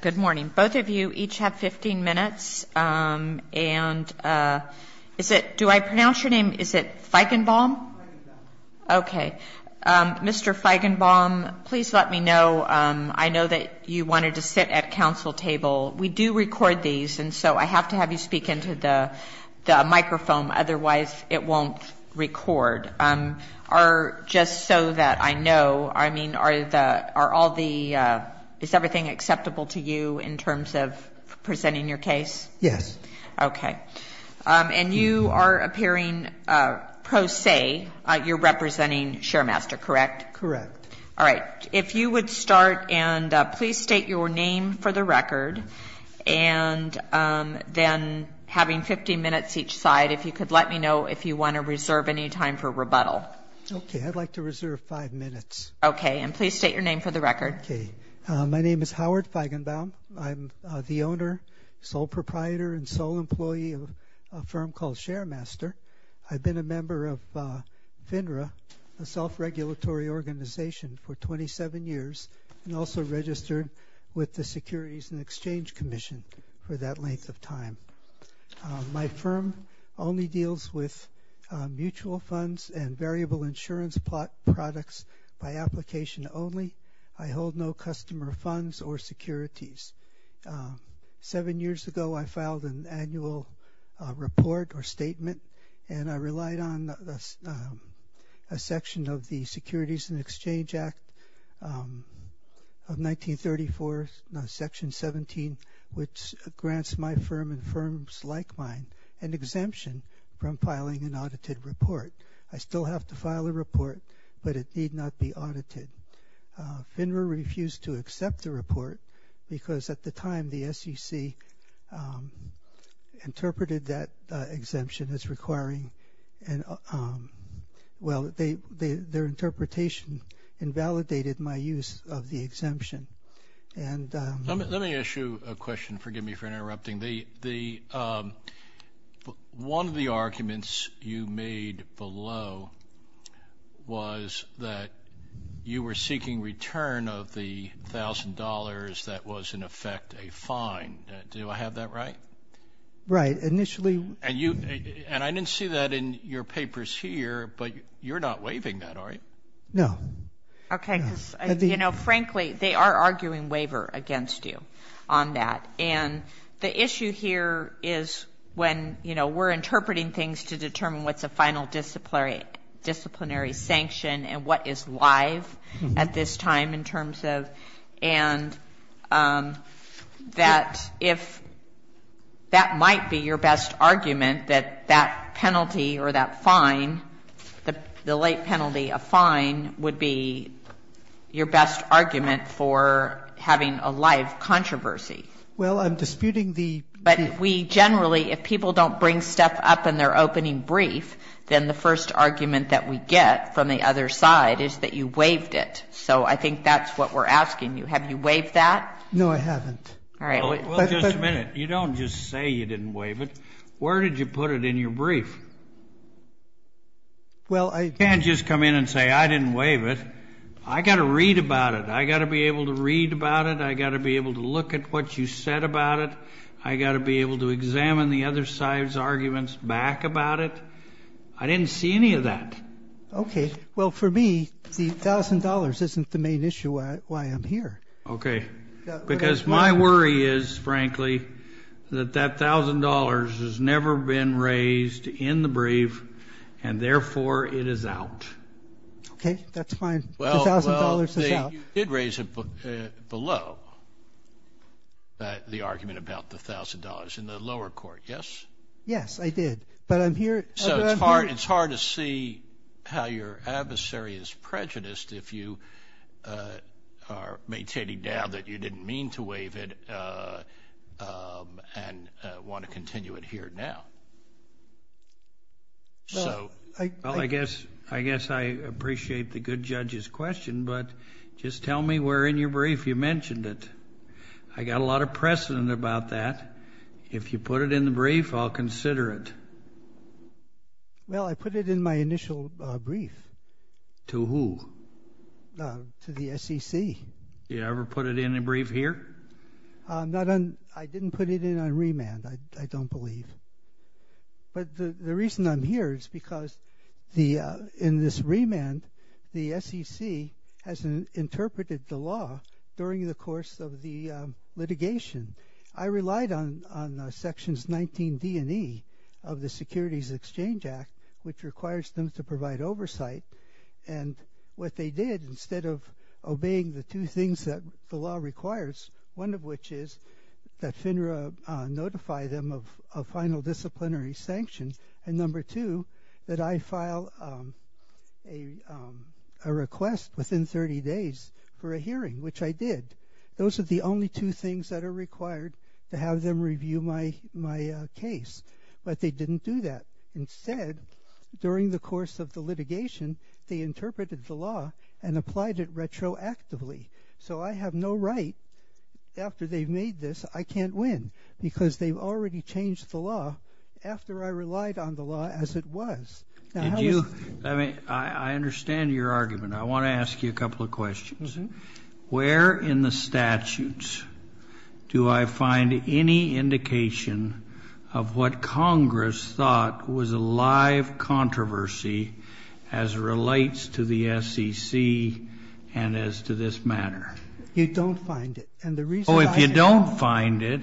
Good morning. Both of you each have 15 minutes. And is it, do I pronounce your name, is it Feigenbaum? Feigenbaum. Okay. Mr. Feigenbaum, please let me know. I know that you wanted to sit at council table. We do record these, and so I have to have you speak into the microphone, otherwise it won't record. Just so that I know, I mean, are all the, is everything acceptable to you in terms of presenting your case? Yes. Okay. And you are appearing pro se, you're representing Sharemaster, correct? Correct. All right. If you would start and please state your name for the record, and then having 15 minutes each side, if you could let me know if you want to reserve any time for rebuttal. Okay. I'd like to reserve five minutes. Okay. And please state your name for the record. Okay. My name is Howard Feigenbaum. I'm the owner, sole proprietor, and sole employee of a firm called Sharemaster. I've been a member of FINRA, a self-regulatory organization, for 27 years, and also registered with the Securities and Exchange Commission for that length of time. My firm only deals with mutual funds and variable insurance products by application only. I hold no customer funds or securities. Seven years ago, I filed an annual report or statement, and I relied on a section of the Securities and Exchange Act of 1934, Section 17, which grants my firm and firms like mine an exemption from filing an audited report. I still have to file a report, but it need not be audited. FINRA refused to accept the report because, at the time, the SEC interpreted that exemption as requiring an – well, Let me ask you a question. Forgive me for interrupting. One of the arguments you made below was that you were seeking return of the $1,000 that was, in effect, a fine. Do I have that right? Right. Initially – And I didn't see that in your papers here, but you're not waiving that, are you? No. Okay, because, you know, frankly, they are arguing waiver against you on that. And the issue here is when, you know, we're interpreting things to determine what's a final disciplinary sanction and what is live at this time in terms of – and that if that might be your best argument, that that penalty or that fine, the late penalty, a fine, would be your best argument for having a live controversy. Well, I'm disputing the – But we generally – if people don't bring stuff up in their opening brief, then the first argument that we get from the other side is that you waived it. So I think that's what we're asking you. Have you waived that? No, I haven't. All right. Well, just a minute. You don't just say you didn't waive it. Where did you put it in your brief? Well, I – You can't just come in and say I didn't waive it. I got to read about it. I got to be able to read about it. I got to be able to look at what you said about it. I got to be able to examine the other side's arguments back about it. I didn't see any of that. Okay. Well, for me, the $1,000 isn't the main issue why I'm here. Okay. Because my worry is, frankly, that that $1,000 has never been raised in the brief, and therefore it is out. Okay. That's fine. The $1,000 is out. Well, you did raise it below the argument about the $1,000 in the lower court, yes? Yes, I did. But I'm here – So it's hard to see how your adversary is prejudiced if you are maintaining now that you didn't mean to waive it and want to continue it here now. Well, I guess I appreciate the good judge's question, but just tell me where in your brief you mentioned it. I got a lot of precedent about that. If you put it in the brief, I'll consider it. Well, I put it in my initial brief. To who? To the SEC. You ever put it in a brief here? I didn't put it in on remand, I don't believe. But the reason I'm here is because in this remand, the SEC has interpreted the law during the course of the litigation. I relied on Sections 19D and E of the Securities Exchange Act, which requires them to provide oversight. And what they did, instead of obeying the two things that the law requires, one of which is that FINRA notify them of final disciplinary sanctions, and number two, that I file a request within 30 days for a hearing, which I did. Those are the only two things that are required to have them review my case. But they didn't do that. Instead, during the course of the litigation, they interpreted the law and applied it retroactively. So I have no right, after they've made this, I can't win, because they've already changed the law after I relied on the law as it was. I understand your argument. I want to ask you a couple of questions. Where in the statutes do I find any indication of what Congress thought was a live controversy as it relates to the SEC and as to this matter? You don't find it. And the reason I say no. Oh, if you don't find it,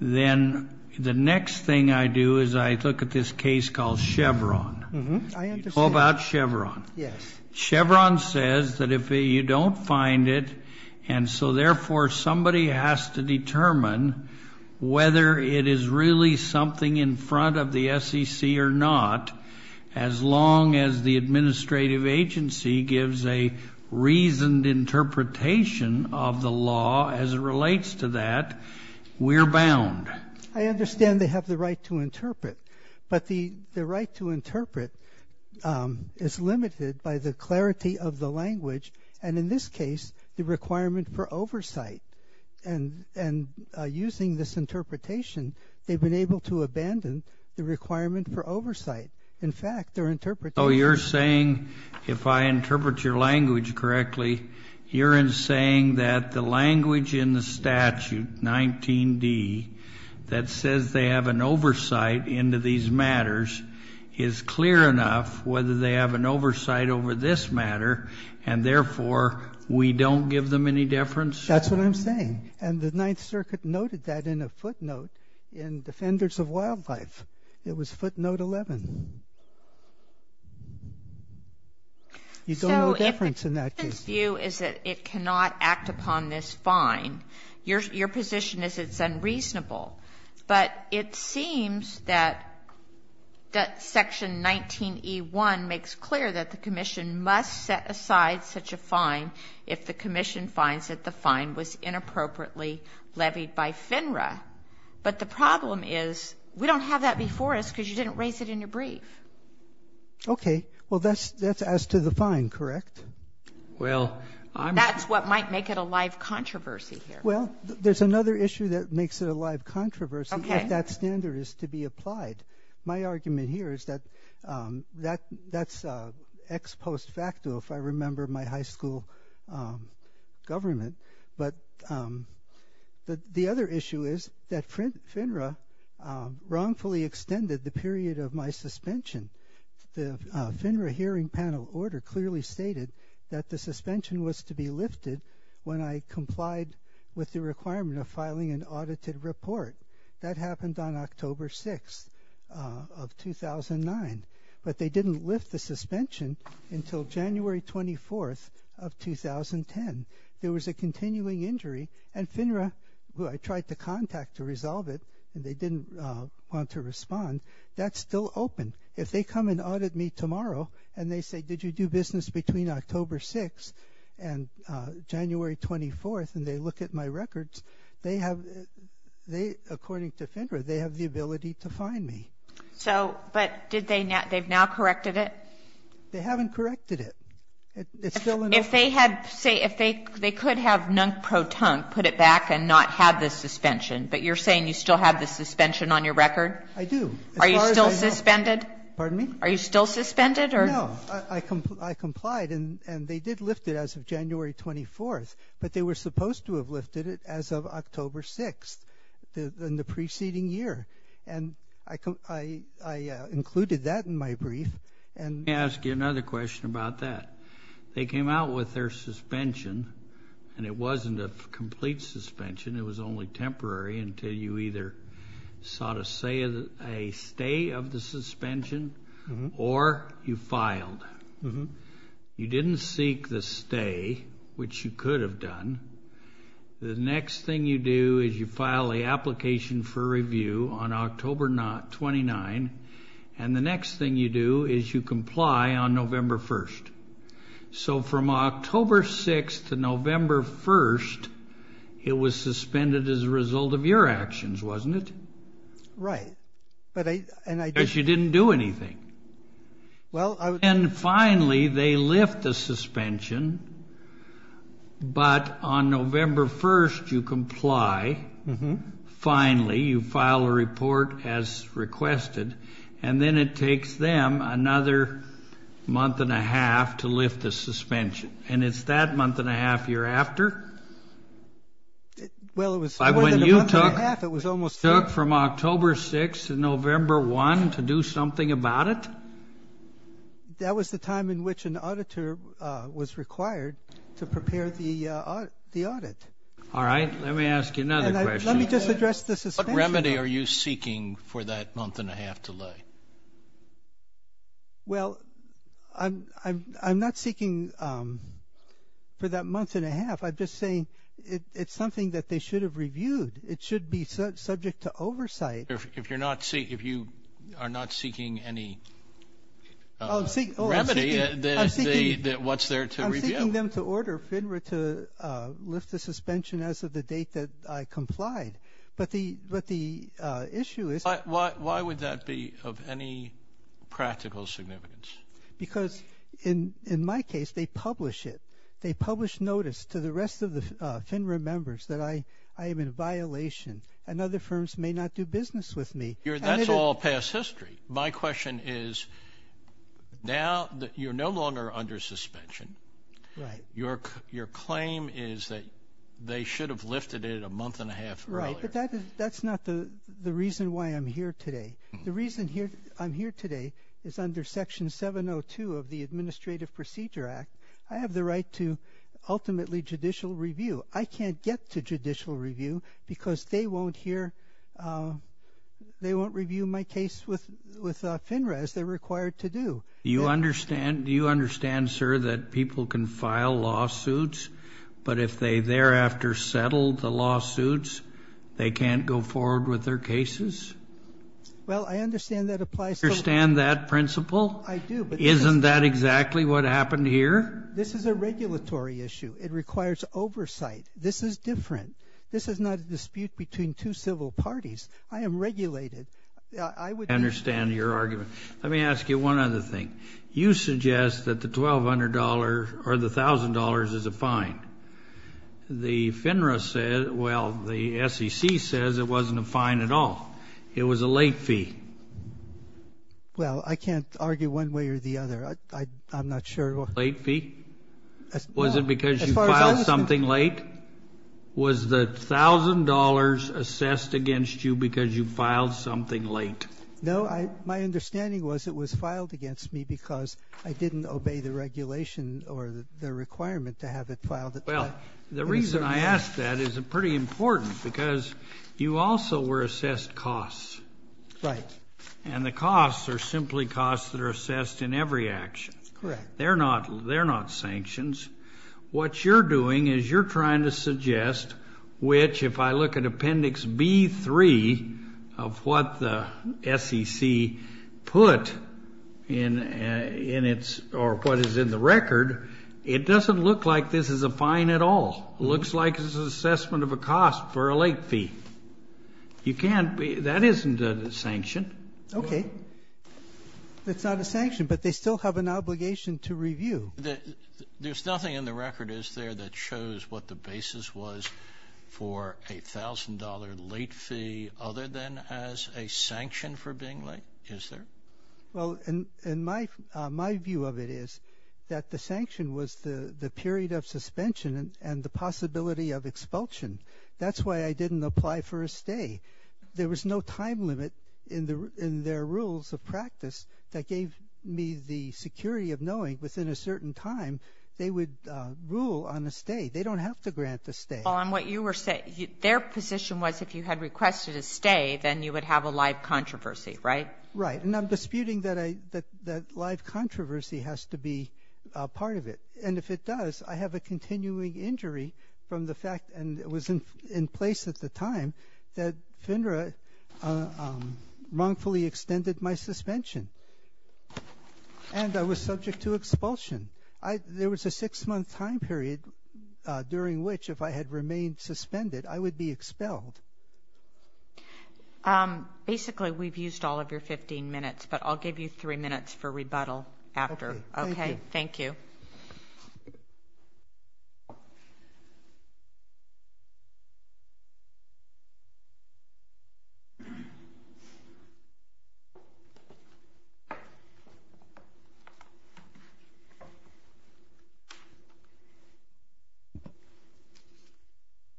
then the next thing I do is I look at this case called Chevron. I understand. It's all about Chevron. Yes. Chevron says that if you don't find it, and so therefore somebody has to determine whether it is really something in front of the SEC or not, as long as the administrative agency gives a reasoned interpretation of the law as it relates to that, we're bound. I understand they have the right to interpret. But the right to interpret is limited by the clarity of the language and, in this case, the requirement for oversight. And using this interpretation, they've been able to abandon the requirement for oversight. In fact, their interpretation is So you're saying if I interpret your language correctly, you're saying that the language in the statute, 19D, that says they have an oversight into these matters, is clear enough whether they have an oversight over this matter and, therefore, we don't give them any difference? That's what I'm saying. And the Ninth Circuit noted that in a footnote in Defenders of Wildlife. It was footnote 11. You don't know the difference in that case. So if the Commission's view is that it cannot act upon this fine, your position is it's unreasonable. But it seems that Section 19E1 makes clear that the Commission must set aside such a fine if the Commission finds that the fine was inappropriately levied by FINRA. But the problem is we don't have that before us because you didn't raise it in your brief. Okay. Well, that's as to the fine, correct? Well, I'm That's what might make it a live controversy here. Well, there's another issue that makes it a live controversy if that standard is to be applied. My argument here is that that's ex post facto, if I remember my high school government. But the other issue is that FINRA wrongfully extended the period of my suspension. The FINRA hearing panel order clearly stated that the suspension was to be lifted when I complied with the requirement of filing an audited report. That happened on October 6th of 2009. But they didn't lift the suspension until January 24th of 2010. There was a continuing injury, and FINRA, who I tried to contact to resolve it, and they didn't want to respond, that's still open. If they come and audit me tomorrow and they say, did you do business between October 6th and January 24th, and they look at my records, they have, according to FINRA, they have the ability to fine me. But they've now corrected it? They haven't corrected it. If they could have NUNCPRO TUNC put it back and not have the suspension, but you're saying you still have the suspension on your record? I do. Are you still suspended? Pardon me? Are you still suspended? No. I complied, and they did lift it as of January 24th, but they were supposed to have lifted it as of October 6th in the preceding year. And I included that in my brief. Let me ask you another question about that. They came out with their suspension, and it wasn't a complete suspension. It was only temporary until you either sought a stay of the suspension or you filed. You didn't seek the stay, which you could have done. The next thing you do is you file an application for review on October 29, and the next thing you do is you comply on November 1st. So from October 6th to November 1st, it was suspended as a result of your actions, wasn't it? Right. Because you didn't do anything. And finally they lift the suspension, but on November 1st you comply. Finally you file a report as requested, and then it takes them another month and a half to lift the suspension. And it's that month and a half you're after? Well, it was more than a month and a half. It was almost two. It took from October 6th to November 1st to do something about it? That was the time in which an auditor was required to prepare the audit. All right. Let me ask you another question. Let me just address the suspension. What remedy are you seeking for that month and a half delay? Well, I'm not seeking for that month and a half. I'm just saying it's something that they should have reviewed. It should be subject to oversight. If you are not seeking any remedy, what's there to review? I'm not asking them to order FINRA to lift the suspension as of the date that I complied. But the issue is. Why would that be of any practical significance? Because in my case they publish it. They publish notice to the rest of the FINRA members that I am in violation and other firms may not do business with me. That's all past history. My question is now that you're no longer under suspension, your claim is that they should have lifted it a month and a half earlier. Right, but that's not the reason why I'm here today. The reason I'm here today is under Section 702 of the Administrative Procedure Act. I have the right to ultimately judicial review. I can't get to judicial review because they won't hear, they won't review my case with FINRA as they're required to do. Do you understand, sir, that people can file lawsuits, but if they thereafter settle the lawsuits, they can't go forward with their cases? Well, I understand that applies. Do you understand that principle? I do. Isn't that exactly what happened here? This is a regulatory issue. It requires oversight. This is different. This is not a dispute between two civil parties. I am regulated. I understand your argument. Let me ask you one other thing. You suggest that the $1,200 or the $1,000 is a fine. The FINRA said, well, the SEC says it wasn't a fine at all. It was a late fee. Well, I can't argue one way or the other. I'm not sure. Late fee? Was it because you filed something late? Was the $1,000 assessed against you because you filed something late? No. My understanding was it was filed against me because I didn't obey the regulation or the requirement to have it filed at that time. Well, the reason I ask that is pretty important because you also were assessed costs. Right. And the costs are simply costs that are assessed in every action. Correct. They're not sanctions. What you're doing is you're trying to suggest which, if I look at Appendix B3 of what the SEC put in its or what is in the record, it doesn't look like this is a fine at all. It looks like it's an assessment of a cost for a late fee. You can't be that isn't a sanction. Okay. It's not a sanction, but they still have an obligation to review. There's nothing in the record, is there, that shows what the basis was for a $1,000 late fee other than as a sanction for being late? Is there? Well, my view of it is that the sanction was the period of suspension and the possibility of expulsion. That's why I didn't apply for a stay. There was no time limit in their rules of practice that gave me the security of knowing within a certain time they would rule on a stay. They don't have to grant a stay. Well, and what you were saying, their position was if you had requested a stay, then you would have a live controversy, right? Right. And I'm disputing that live controversy has to be part of it. And if it does, I have a continuing injury from the fact, and it was in place at the time, that FINRA wrongfully extended my suspension, and I was subject to expulsion. There was a six-month time period during which, if I had remained suspended, I would be expelled. Basically, we've used all of your 15 minutes, but I'll give you three minutes for rebuttal after. Okay. Thank you.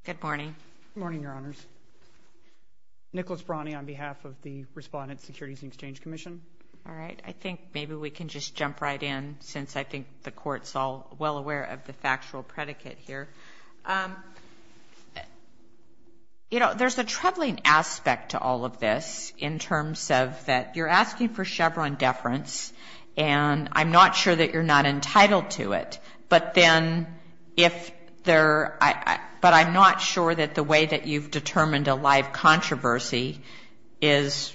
Good morning. Good morning, Your Honors. Nicholas Brani on behalf of the Respondent Securities and Exchange Commission. All right. I think maybe we can just jump right in since I think the Court's all well aware of the factual predicate here. You know, there's a troubling aspect to all of this in terms of that you're asking for Chevron deference, and I'm not sure that you're not entitled to it. But then if there – but I'm not sure that the way that you've determined a live controversy is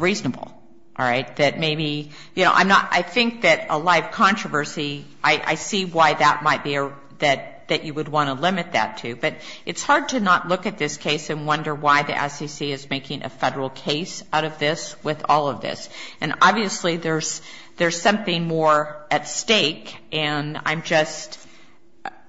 reasonable. All right? That maybe – you know, I'm not – I think that a live controversy, I see why that might be – that you would want to limit that to. But it's hard to not look at this case and wonder why the SEC is making a federal case out of this with all of this. And obviously, there's something more at stake. And I'm just –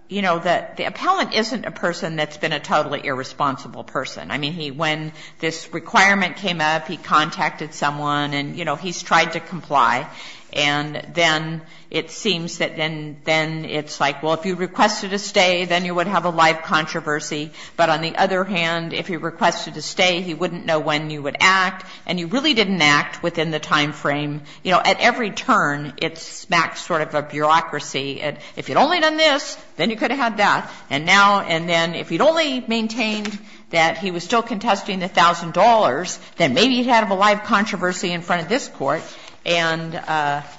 you know, the appellant isn't a person that's been a totally irresponsible person. I mean, when this requirement came up, he contacted someone and, you know, he's tried to comply. And then it seems that then it's like, well, if you requested a stay, then you would have a live controversy. But on the other hand, if he requested a stay, he wouldn't know when you would act. And you really didn't act within the time frame. You know, at every turn, it smacked sort of a bureaucracy. If you'd only done this, then you could have had that. And now – and then if you'd only maintained that he was still contesting the $1,000, then maybe you'd have a live controversy in front of this Court. And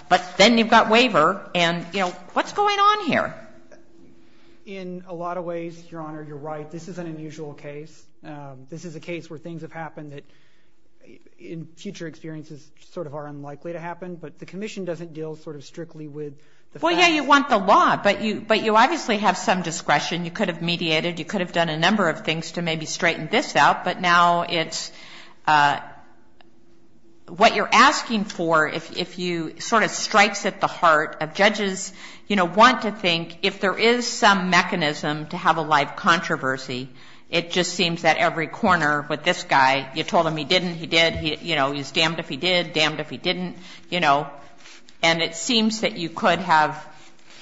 – but then you've got waiver. And, you know, what's going on here? In a lot of ways, Your Honor, you're right. This is an unusual case. This is a case where things have happened that, in future experiences, sort of are unlikely to happen. But the commission doesn't deal sort of strictly with the facts. Well, yeah, you want the law. But you obviously have some discretion. You could have mediated. You could have done a number of things to maybe straighten this out. But now it's – what you're asking for, if you – sort of strikes at the heart of judges, you know, I want to think if there is some mechanism to have a live controversy, it just seems that every corner with this guy, you told him he didn't, he did, you know, he's damned if he did, damned if he didn't, you know, and it seems that you could have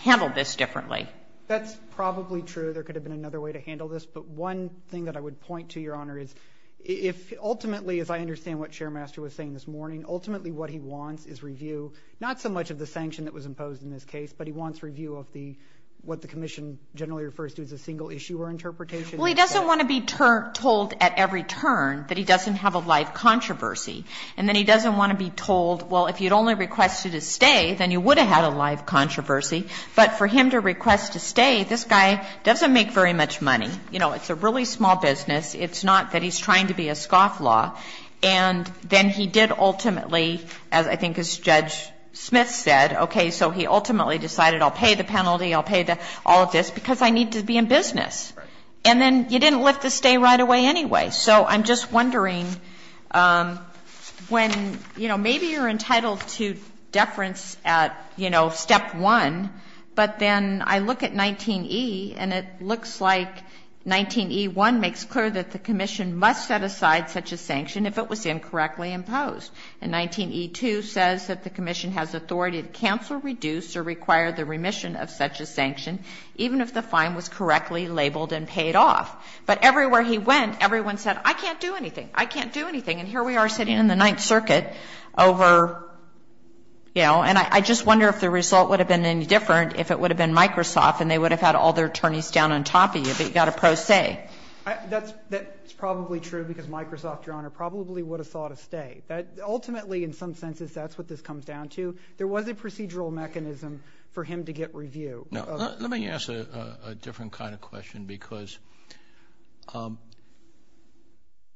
handled this differently. That's probably true. There could have been another way to handle this. But one thing that I would point to, Your Honor, is if ultimately, as I understand what Chairmaster was saying this morning, ultimately what he wants is review, not so much of the sanction that was imposed in this case, but he wants review of the – what the commission generally refers to as a single issue or interpretation. Well, he doesn't want to be told at every turn that he doesn't have a live controversy. And then he doesn't want to be told, well, if you'd only requested his stay, then you would have had a live controversy. But for him to request a stay, this guy doesn't make very much money. You know, it's a really small business. It's not that he's trying to be a scofflaw. And then he did ultimately, as I think as Judge Smith said, okay, so he ultimately decided I'll pay the penalty, I'll pay all of this, because I need to be in business. And then you didn't lift the stay right away anyway. So I'm just wondering when, you know, maybe you're entitled to deference at, you know, Step 1, but then I look at 19E, and it looks like 19E1 makes clear that the commission must set aside such a sanction if it was incorrectly imposed. And 19E2 says that the commission has authority to cancel, reduce, or require the remission of such a sanction, even if the fine was correctly labeled and paid off. But everywhere he went, everyone said I can't do anything, I can't do anything. And here we are sitting in the Ninth Circuit over, you know, and I just wonder if the result would have been any different if it would have been Microsoft and they would have had all their attorneys down on top of you, but you got a pro se. That's probably true, because Microsoft, Your Honor, probably would have sought a stay. Ultimately, in some senses, that's what this comes down to. There was a procedural mechanism for him to get review. Let me ask a different kind of question, because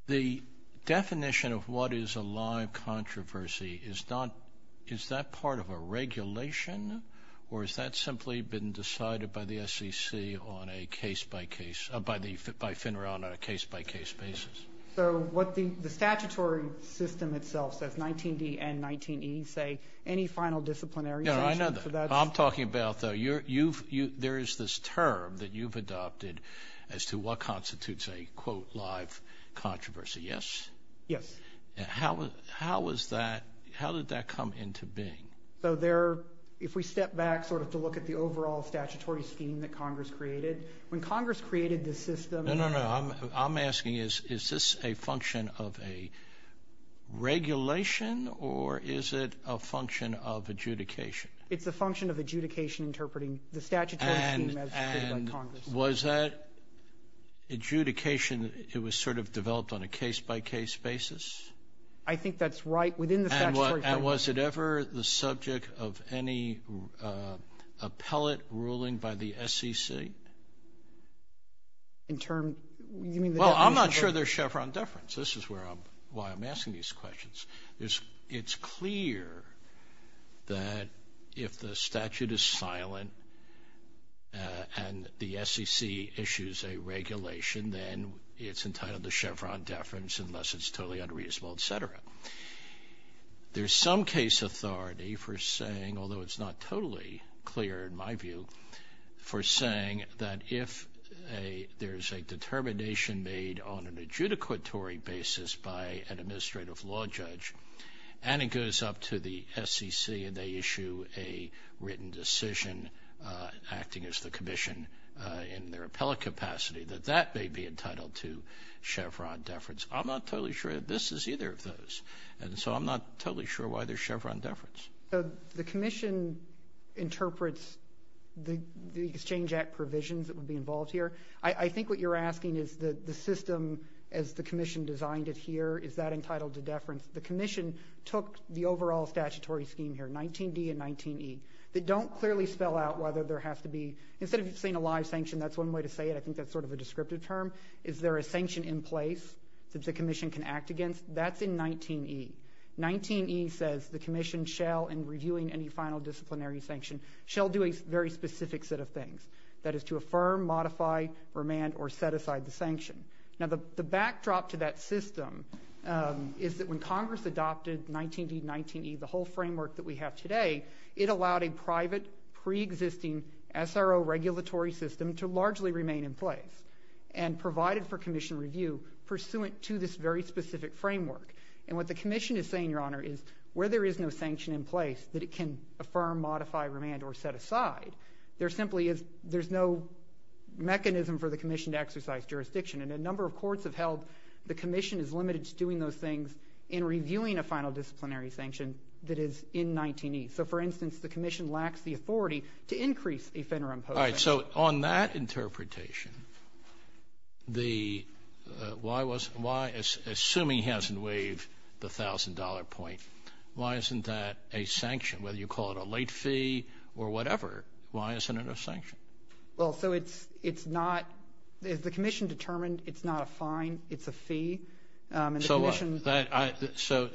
the definition of what is a live controversy, is that part of a regulation, or has that simply been decided by the committee, by FINRA, on a case-by-case basis? So what the statutory system itself says, 19D and 19E, say any final disciplinary sanction. I know that. I'm talking about, though, there is this term that you've adopted as to what constitutes a, quote, live controversy, yes? Yes. How was that, how did that come into being? So there, if we step back sort of to look at the overall statutory scheme that Congress created this system. No, no, no. I'm asking, is this a function of a regulation, or is it a function of adjudication? It's a function of adjudication interpreting the statutory scheme as created by Congress. And was that adjudication, it was sort of developed on a case-by-case basis? I think that's right within the statutory framework. And was it ever the subject of any appellate ruling by the SEC? In terms, you mean the deference? Well, I'm not sure there's Chevron deference. This is why I'm asking these questions. It's clear that if the statute is silent and the SEC issues a regulation, then it's entitled to Chevron deference unless it's totally unreasonable, et cetera. There's some case authority for saying, although it's not totally clear in my view, for saying that if there's a determination made on an adjudicatory basis by an administrative law judge and it goes up to the SEC and they issue a written decision acting as the commission in their appellate capacity, that that may be entitled to Chevron deference. I'm not totally sure this is either of those. And so I'm not totally sure why there's Chevron deference. The commission interprets the Exchange Act provisions that would be involved here. I think what you're asking is the system as the commission designed it here, is that entitled to deference? The commission took the overall statutory scheme here, 19D and 19E, that don't clearly spell out whether there has to be, instead of saying a live sanction, that's one way to say it. I think that's sort of a descriptive term. Is there a sanction in place that the commission can act against? That's in 19E. 19E says the commission shall, in reviewing any final disciplinary sanction, shall do a very specific set of things. That is to affirm, modify, remand, or set aside the sanction. Now, the backdrop to that system is that when Congress adopted 19D and 19E, the whole framework that we have today, it allowed a private preexisting SRO regulatory system to largely remain in place. And provided for commission review pursuant to this very specific framework. And what the commission is saying, Your Honor, is where there is no sanction in place that it can affirm, modify, remand, or set aside. There simply is, there's no mechanism for the commission to exercise jurisdiction. And a number of courts have held the commission is limited to doing those things in reviewing a final disciplinary sanction that is in 19E. So, for instance, the commission lacks the authority to increase a FINRA imposed sanction. All right. So, on that interpretation, the, why was, why, assuming he hasn't waived the $1,000 point, why isn't that a sanction? Whether you call it a late fee or whatever, why isn't it a sanction? Well, so it's, it's not, as the commission determined, it's not a fine. It's a fee. And the commission.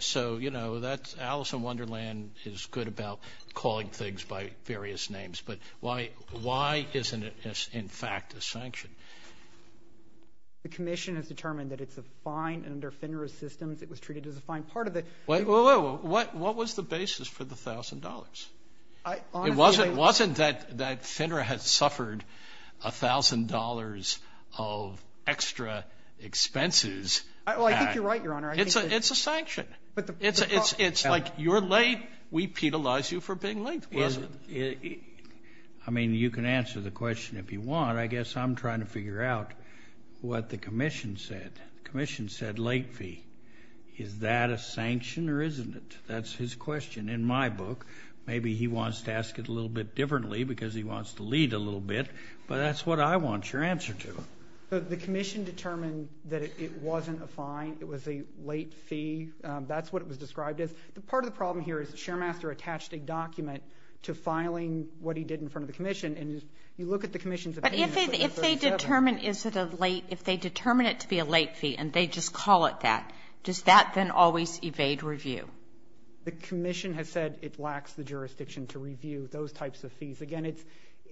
So, you know, that's, Alice in Wonderland is good about calling things by various names. But why, why isn't it, in fact, a sanction? The commission has determined that it's a fine under FINRA systems. It was treated as a fine part of the. Wait, wait, wait. What was the basis for the $1,000? It wasn't that FINRA had suffered $1,000 of extra expenses. I think you're right, Your Honor. It's a sanction. It's like you're late, we penalize you for being late. I mean, you can answer the question if you want. I guess I'm trying to figure out what the commission said. The commission said late fee. Is that a sanction or isn't it? That's his question in my book. Maybe he wants to ask it a little bit differently because he wants to lead a little bit. But that's what I want your answer to. The commission determined that it wasn't a fine. It was a late fee. That's what it was described as. Part of the problem here is the sharemaster attached a document to filing what he did in front of the commission. And you look at the commission's opinion. But if they determine it to be a late fee and they just call it that, does that then always evade review? The commission has said it lacks the jurisdiction to review those types of fees. Again,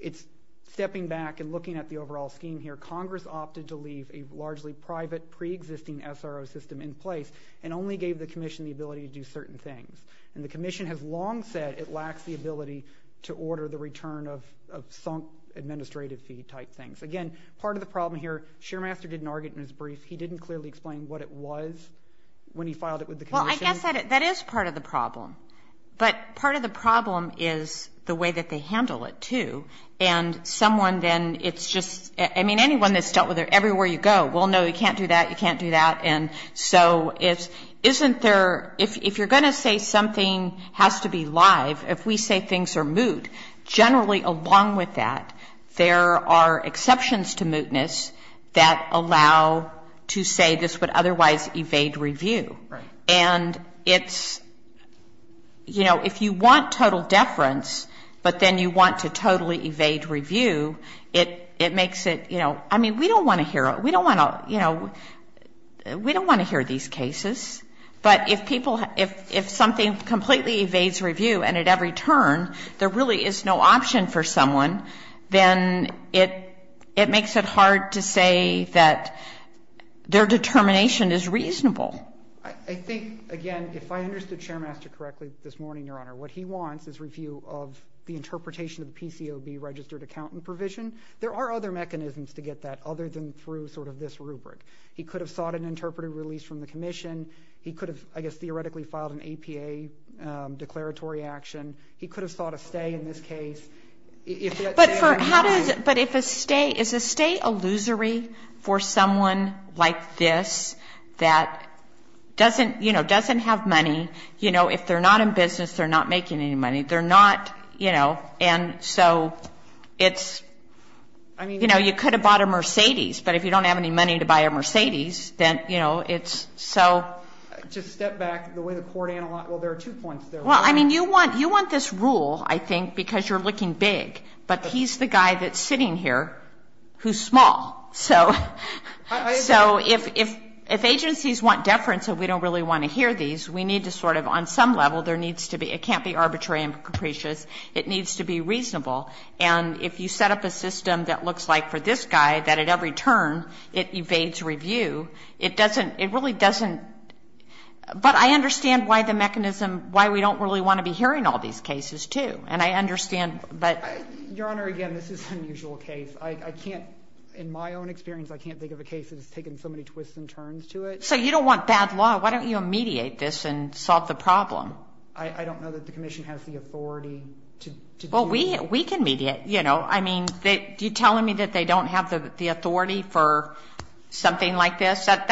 it's stepping back and looking at the overall scheme here. Congress opted to leave a largely private preexisting SRO system in place and only gave the commission the ability to do certain things. And the commission has long said it lacks the ability to order the return of sunk administrative fee type things. Again, part of the problem here, sharemaster didn't argue it in his brief. He didn't clearly explain what it was when he filed it with the commission. Well, I guess that is part of the problem. But part of the problem is the way that they handle it, too. And someone then, it's just, I mean, anyone that's dealt with it everywhere you go, well, no, you can't do that, you can't do that. And so isn't there, if you're going to say something has to be live, if we say things are moot, generally along with that, there are exceptions to mootness that allow to say this would otherwise evade review. Right. And it's, you know, if you want total deference, but then you want to totally evade review, it makes it, you know, I mean, we don't want to hear it. We don't want to, you know, we don't want to hear these cases. But if people, if something completely evades review and at every turn there really is no option for someone, then it makes it hard to say that their determination is reasonable. I think, again, if I understood Chairmaster correctly this morning, Your Honor, what he wants is review of the interpretation of the PCOB registered accountant provision. There are other mechanisms to get that other than through sort of this rubric. He could have sought an interpretive release from the commission. He could have, I guess, theoretically filed an APA declaratory action. He could have sought a stay in this case. But for how does, but if a stay, is a stay illusory for someone like this that doesn't, you know, doesn't have money? You know, if they're not in business, they're not making any money. They're not, you know, and so it's, you know, you could have bought a Mercedes, but if you don't have any money to buy a Mercedes, then, you know, it's so. Just step back. The way the court analyzed, well, there are two points there. Well, I mean, you want this rule, I think, because you're looking big. But he's the guy that's sitting here who's small. So if agencies want deference and we don't really want to hear these, we need to sort of, on some level, there needs to be, it can't be arbitrary and capricious. It needs to be reasonable. And if you set up a system that looks like for this guy, that at every turn it evades review, it doesn't, it really doesn't. But I understand why the mechanism, why we don't really want to be hearing all these cases, too. And I understand that. Your Honor, again, this is an unusual case. I can't, in my own experience, I can't think of a case that has taken so many twists and turns to it. So you don't want bad law. Why don't you mediate this and solve the problem? I don't know that the commission has the authority to do that. Well, we can mediate, you know. I mean, you're telling me that they don't have the authority for something like this. That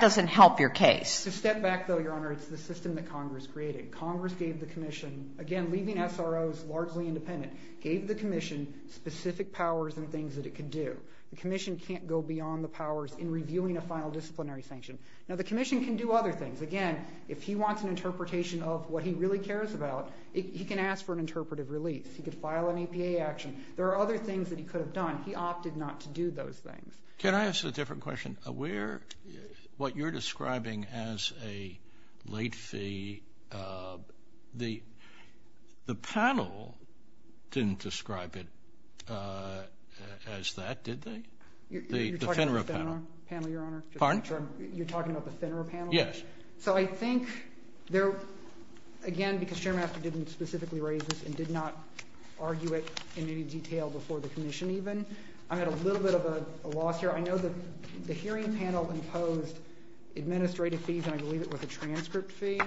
doesn't help your case. To step back, though, Your Honor, it's the system that Congress created. Congress gave the commission, again, leaving SROs largely independent, gave the commission specific powers and things that it could do. The commission can't go beyond the powers in reviewing a final disciplinary sanction. Now, the commission can do other things. Again, if he wants an interpretation of what he really cares about, he can ask for an interpretive release. He could file an APA action. There are other things that he could have done. He opted not to do those things. Can I ask a different question? What you're describing as a late fee, the panel didn't describe it as that, did they? The FINRA panel. You're talking about the FINRA panel, Your Honor? Pardon? You're talking about the FINRA panel? Yes. So I think there, again, because Chairmaster didn't specifically raise this and did not argue it in any detail before the commission even, I'm at a little bit of a loss here. I know that the hearing panel imposed administrative fees, and I believe it was a transcript fee.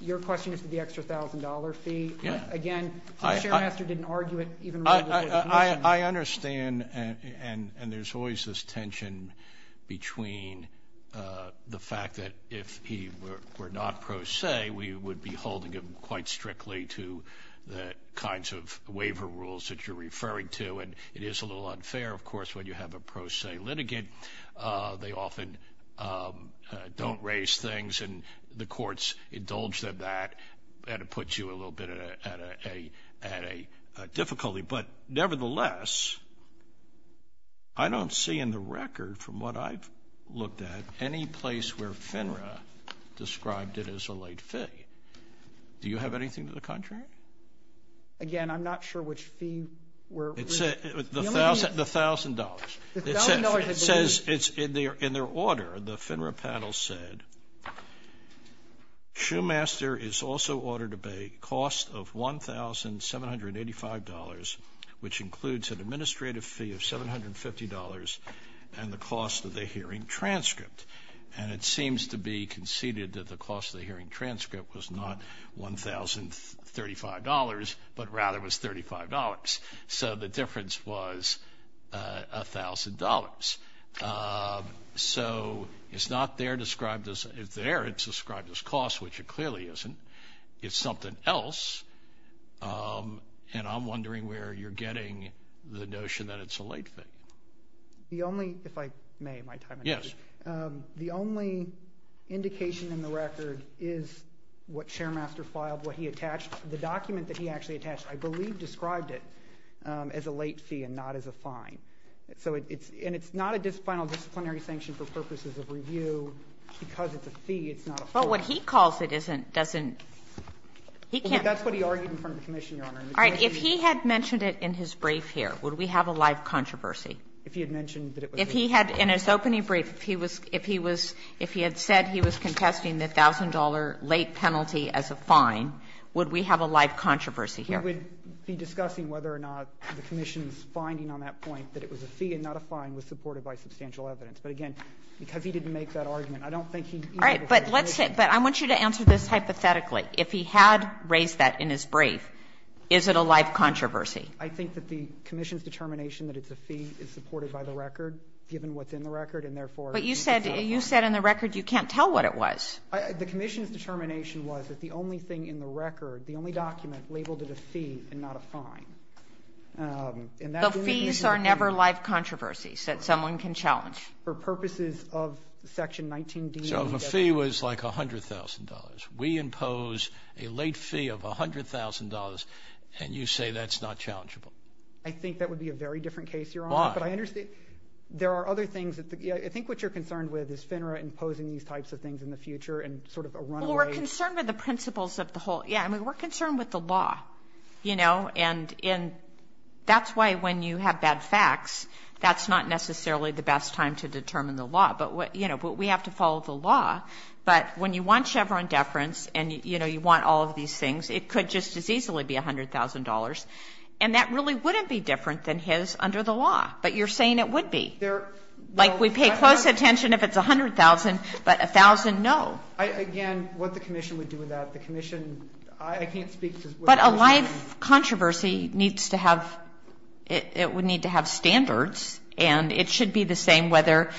Your question is the extra $1,000 fee. Yes. Again, Chairmaster didn't argue it. I understand, and there's always this tension between the fact that if he were not pro se, we would be holding him quite strictly to the kinds of waiver rules that you're referring to, and it is a little unfair, of course, when you have a pro se litigant. They often don't raise things, and the courts indulge them that, and it puts you a little bit at a difficulty. But nevertheless, I don't see in the record, from what I've looked at, any place where FINRA described it as a late fee. Do you have anything to the contrary? Again, I'm not sure which fee. The $1,000. The $1,000 had been raised. In their order, the FINRA panel said, Shoemaster is also ordered a cost of $1,785, which includes an administrative fee of $750 and the cost of the hearing transcript. And it seems to be conceded that the cost of the hearing transcript was not $1,035, but rather was $35. So it's not there described as there. It's described as cost, which it clearly isn't. It's something else. And I'm wondering where you're getting the notion that it's a late fee. If I may, my time is up. Yes. The only indication in the record is what Shoemaster filed, what he attached. The document that he actually attached, I believe, described it as a late fee and not as a fine. And it's not a final disciplinary sanction for purposes of review. Because it's a fee, it's not a fine. But what he calls it doesn't he can't. That's what he argued in front of the commission, Your Honor. All right. If he had mentioned it in his brief here, would we have a live controversy? If he had mentioned that it was a fee. If he had, in his opening brief, if he had said he was contesting the $1,000 late penalty as a fine, would we have a live controversy here? I would be discussing whether or not the commission's finding on that point, that it was a fee and not a fine, was supported by substantial evidence. But again, because he didn't make that argument, I don't think he'd be able to make it. All right. But let's say, but I want you to answer this hypothetically. If he had raised that in his brief, is it a live controversy? I think that the commission's determination that it's a fee is supported by the record, given what's in the record, and therefore it's hypothetical. But you said in the record you can't tell what it was. The commission's determination was that the only thing in the record, the only document labeled it a fee and not a fine. The fees are never live controversies that someone can challenge. For purposes of Section 19D. So if a fee was like $100,000, we impose a late fee of $100,000, and you say that's not challengeable. I think that would be a very different case, Your Honor. Why? But I understand there are other things. I think what you're concerned with is FINRA imposing these types of things in the future and sort of a runaway. Well, we're concerned with the principles of the whole. Yeah, I mean, we're concerned with the law, you know, and that's why when you have bad facts, that's not necessarily the best time to determine the law. But, you know, we have to follow the law. But when you want Chevron deference and, you know, you want all of these things, it could just as easily be $100,000. And that really wouldn't be different than his under the law. But you're saying it would be. Like, we pay close attention if it's $100,000, but $1,000, no. Again, what the commission would do with that, the commission, I can't speak to what the commission would do. But a life controversy needs to have, it would need to have standards, and it should be the same whether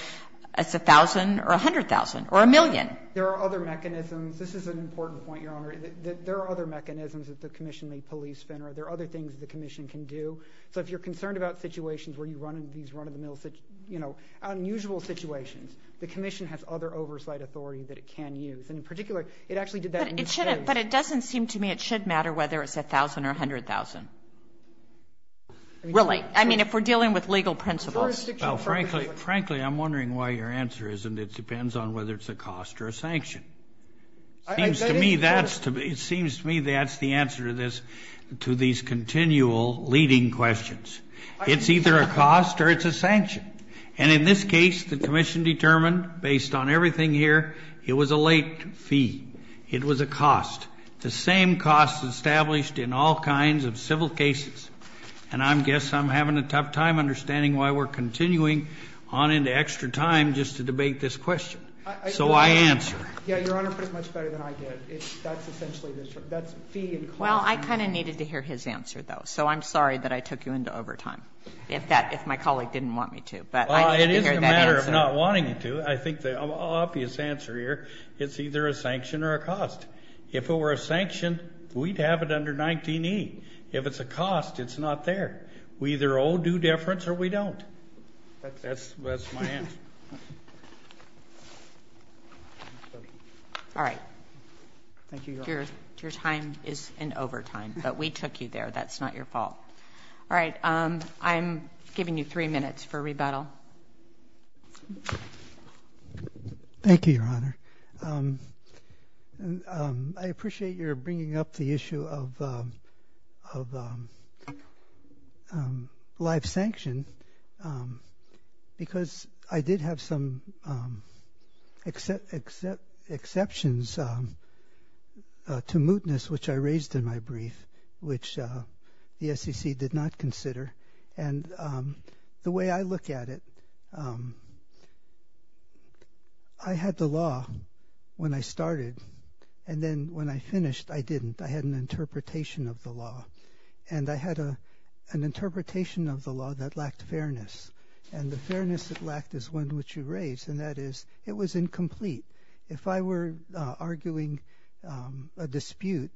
it's $1,000 or $100,000 or $1,000,000. There are other mechanisms. This is an important point, Your Honor. There are other mechanisms that the commission may police FINRA. There are other things the commission can do. So if you're concerned about situations where you run into these run-of-the-mill, you know, unusual situations, the commission has other oversight authority that it can use. And in particular, it actually did that in the case. But it doesn't seem to me it should matter whether it's $1,000 or $100,000. Really. I mean, if we're dealing with legal principles. Well, frankly, frankly, I'm wondering why your answer isn't it depends on whether it's a cost or a sanction. It seems to me that's the answer to this, to these continual leading questions. It's either a cost or it's a sanction. And in this case, the commission determined, based on everything here, it was a late fee. It was a cost. The same cost established in all kinds of civil cases. And I guess I'm having a tough time understanding why we're continuing on into extra time just to debate this question. So I answer. Yeah, Your Honor, but it's much better than I did. That's essentially this. That's fee and cost. Well, I kind of needed to hear his answer, though. So I'm sorry that I took you into overtime. If my colleague didn't want me to. Well, it isn't a matter of not wanting you to. I think the obvious answer here, it's either a sanction or a cost. If it were a sanction, we'd have it under 19E. If it's a cost, it's not there. We either owe due deference or we don't. That's my answer. All right. Thank you, Your Honor. Your time is in overtime. But we took you there. That's not your fault. All right. I'm giving you three minutes for rebuttal. Thank you, Your Honor. I appreciate your bringing up the issue of life sanction because I did have some exceptions to mootness, which I raised in my brief, which the SEC did not consider. And the way I look at it, I had the law when I started. And then when I finished, I didn't. I had an interpretation of the law. And I had an interpretation of the law that lacked fairness. And the fairness it lacked is one which you raised, and that is it was incomplete. If I were arguing a dispute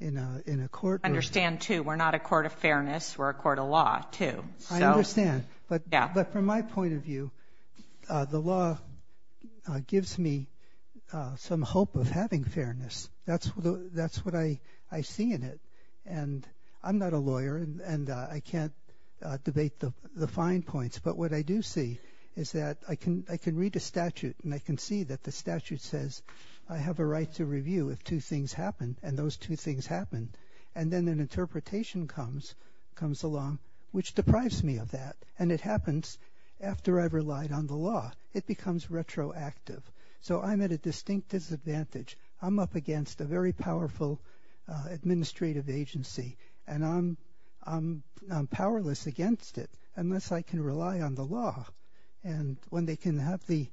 in a court. I understand, too. We're not a court of fairness. We're a court of law, too. I understand. But from my point of view, the law gives me some hope of having fairness. That's what I see in it. And I'm not a lawyer, and I can't debate the fine points. But what I do see is that I can read a statute, and I can see that the statute says I have a right to review if two things happen. And those two things happen. And then an interpretation comes along, which deprives me of that. And it happens after I've relied on the law. It becomes retroactive. So I'm at a distinct disadvantage. I'm up against a very powerful administrative agency. And I'm powerless against it unless I can rely on the law. And when they can have the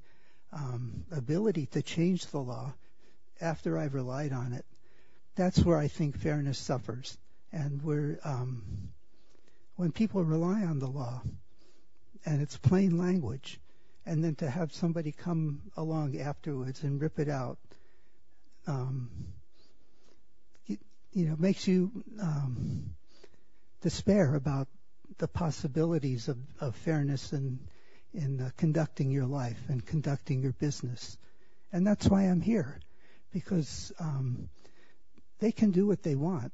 ability to change the law after I've relied on it, that's where I think fairness suffers. And when people rely on the law, and it's plain language, and then to have somebody come along afterwards and rip it out, it makes you despair about the possibilities of fairness in conducting your life and conducting your business. And that's why I'm here, because they can do what they want.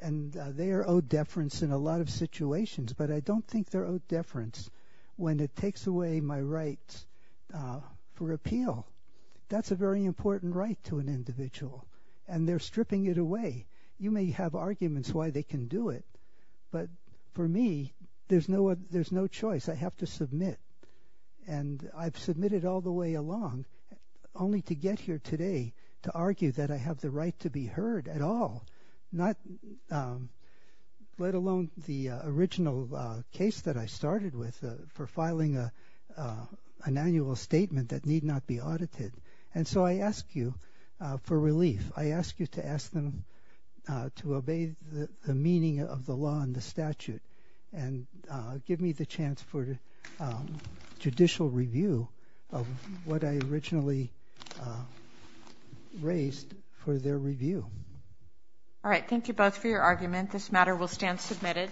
And they are owed deference in a lot of situations. But I don't think they're owed deference when it takes away my right for appeal. That's a very important right to an individual. And they're stripping it away. You may have arguments why they can do it. I have to submit. And I've submitted all the way along only to get here today to argue that I have the right to be heard at all, let alone the original case that I started with for filing an annual statement that need not be audited. And so I ask you for relief. I ask you to ask them to obey the meaning of the law and the statute and give me the chance for judicial review of what I originally raised for their review. All right. Thank you both for your argument. This matter will stand submitted.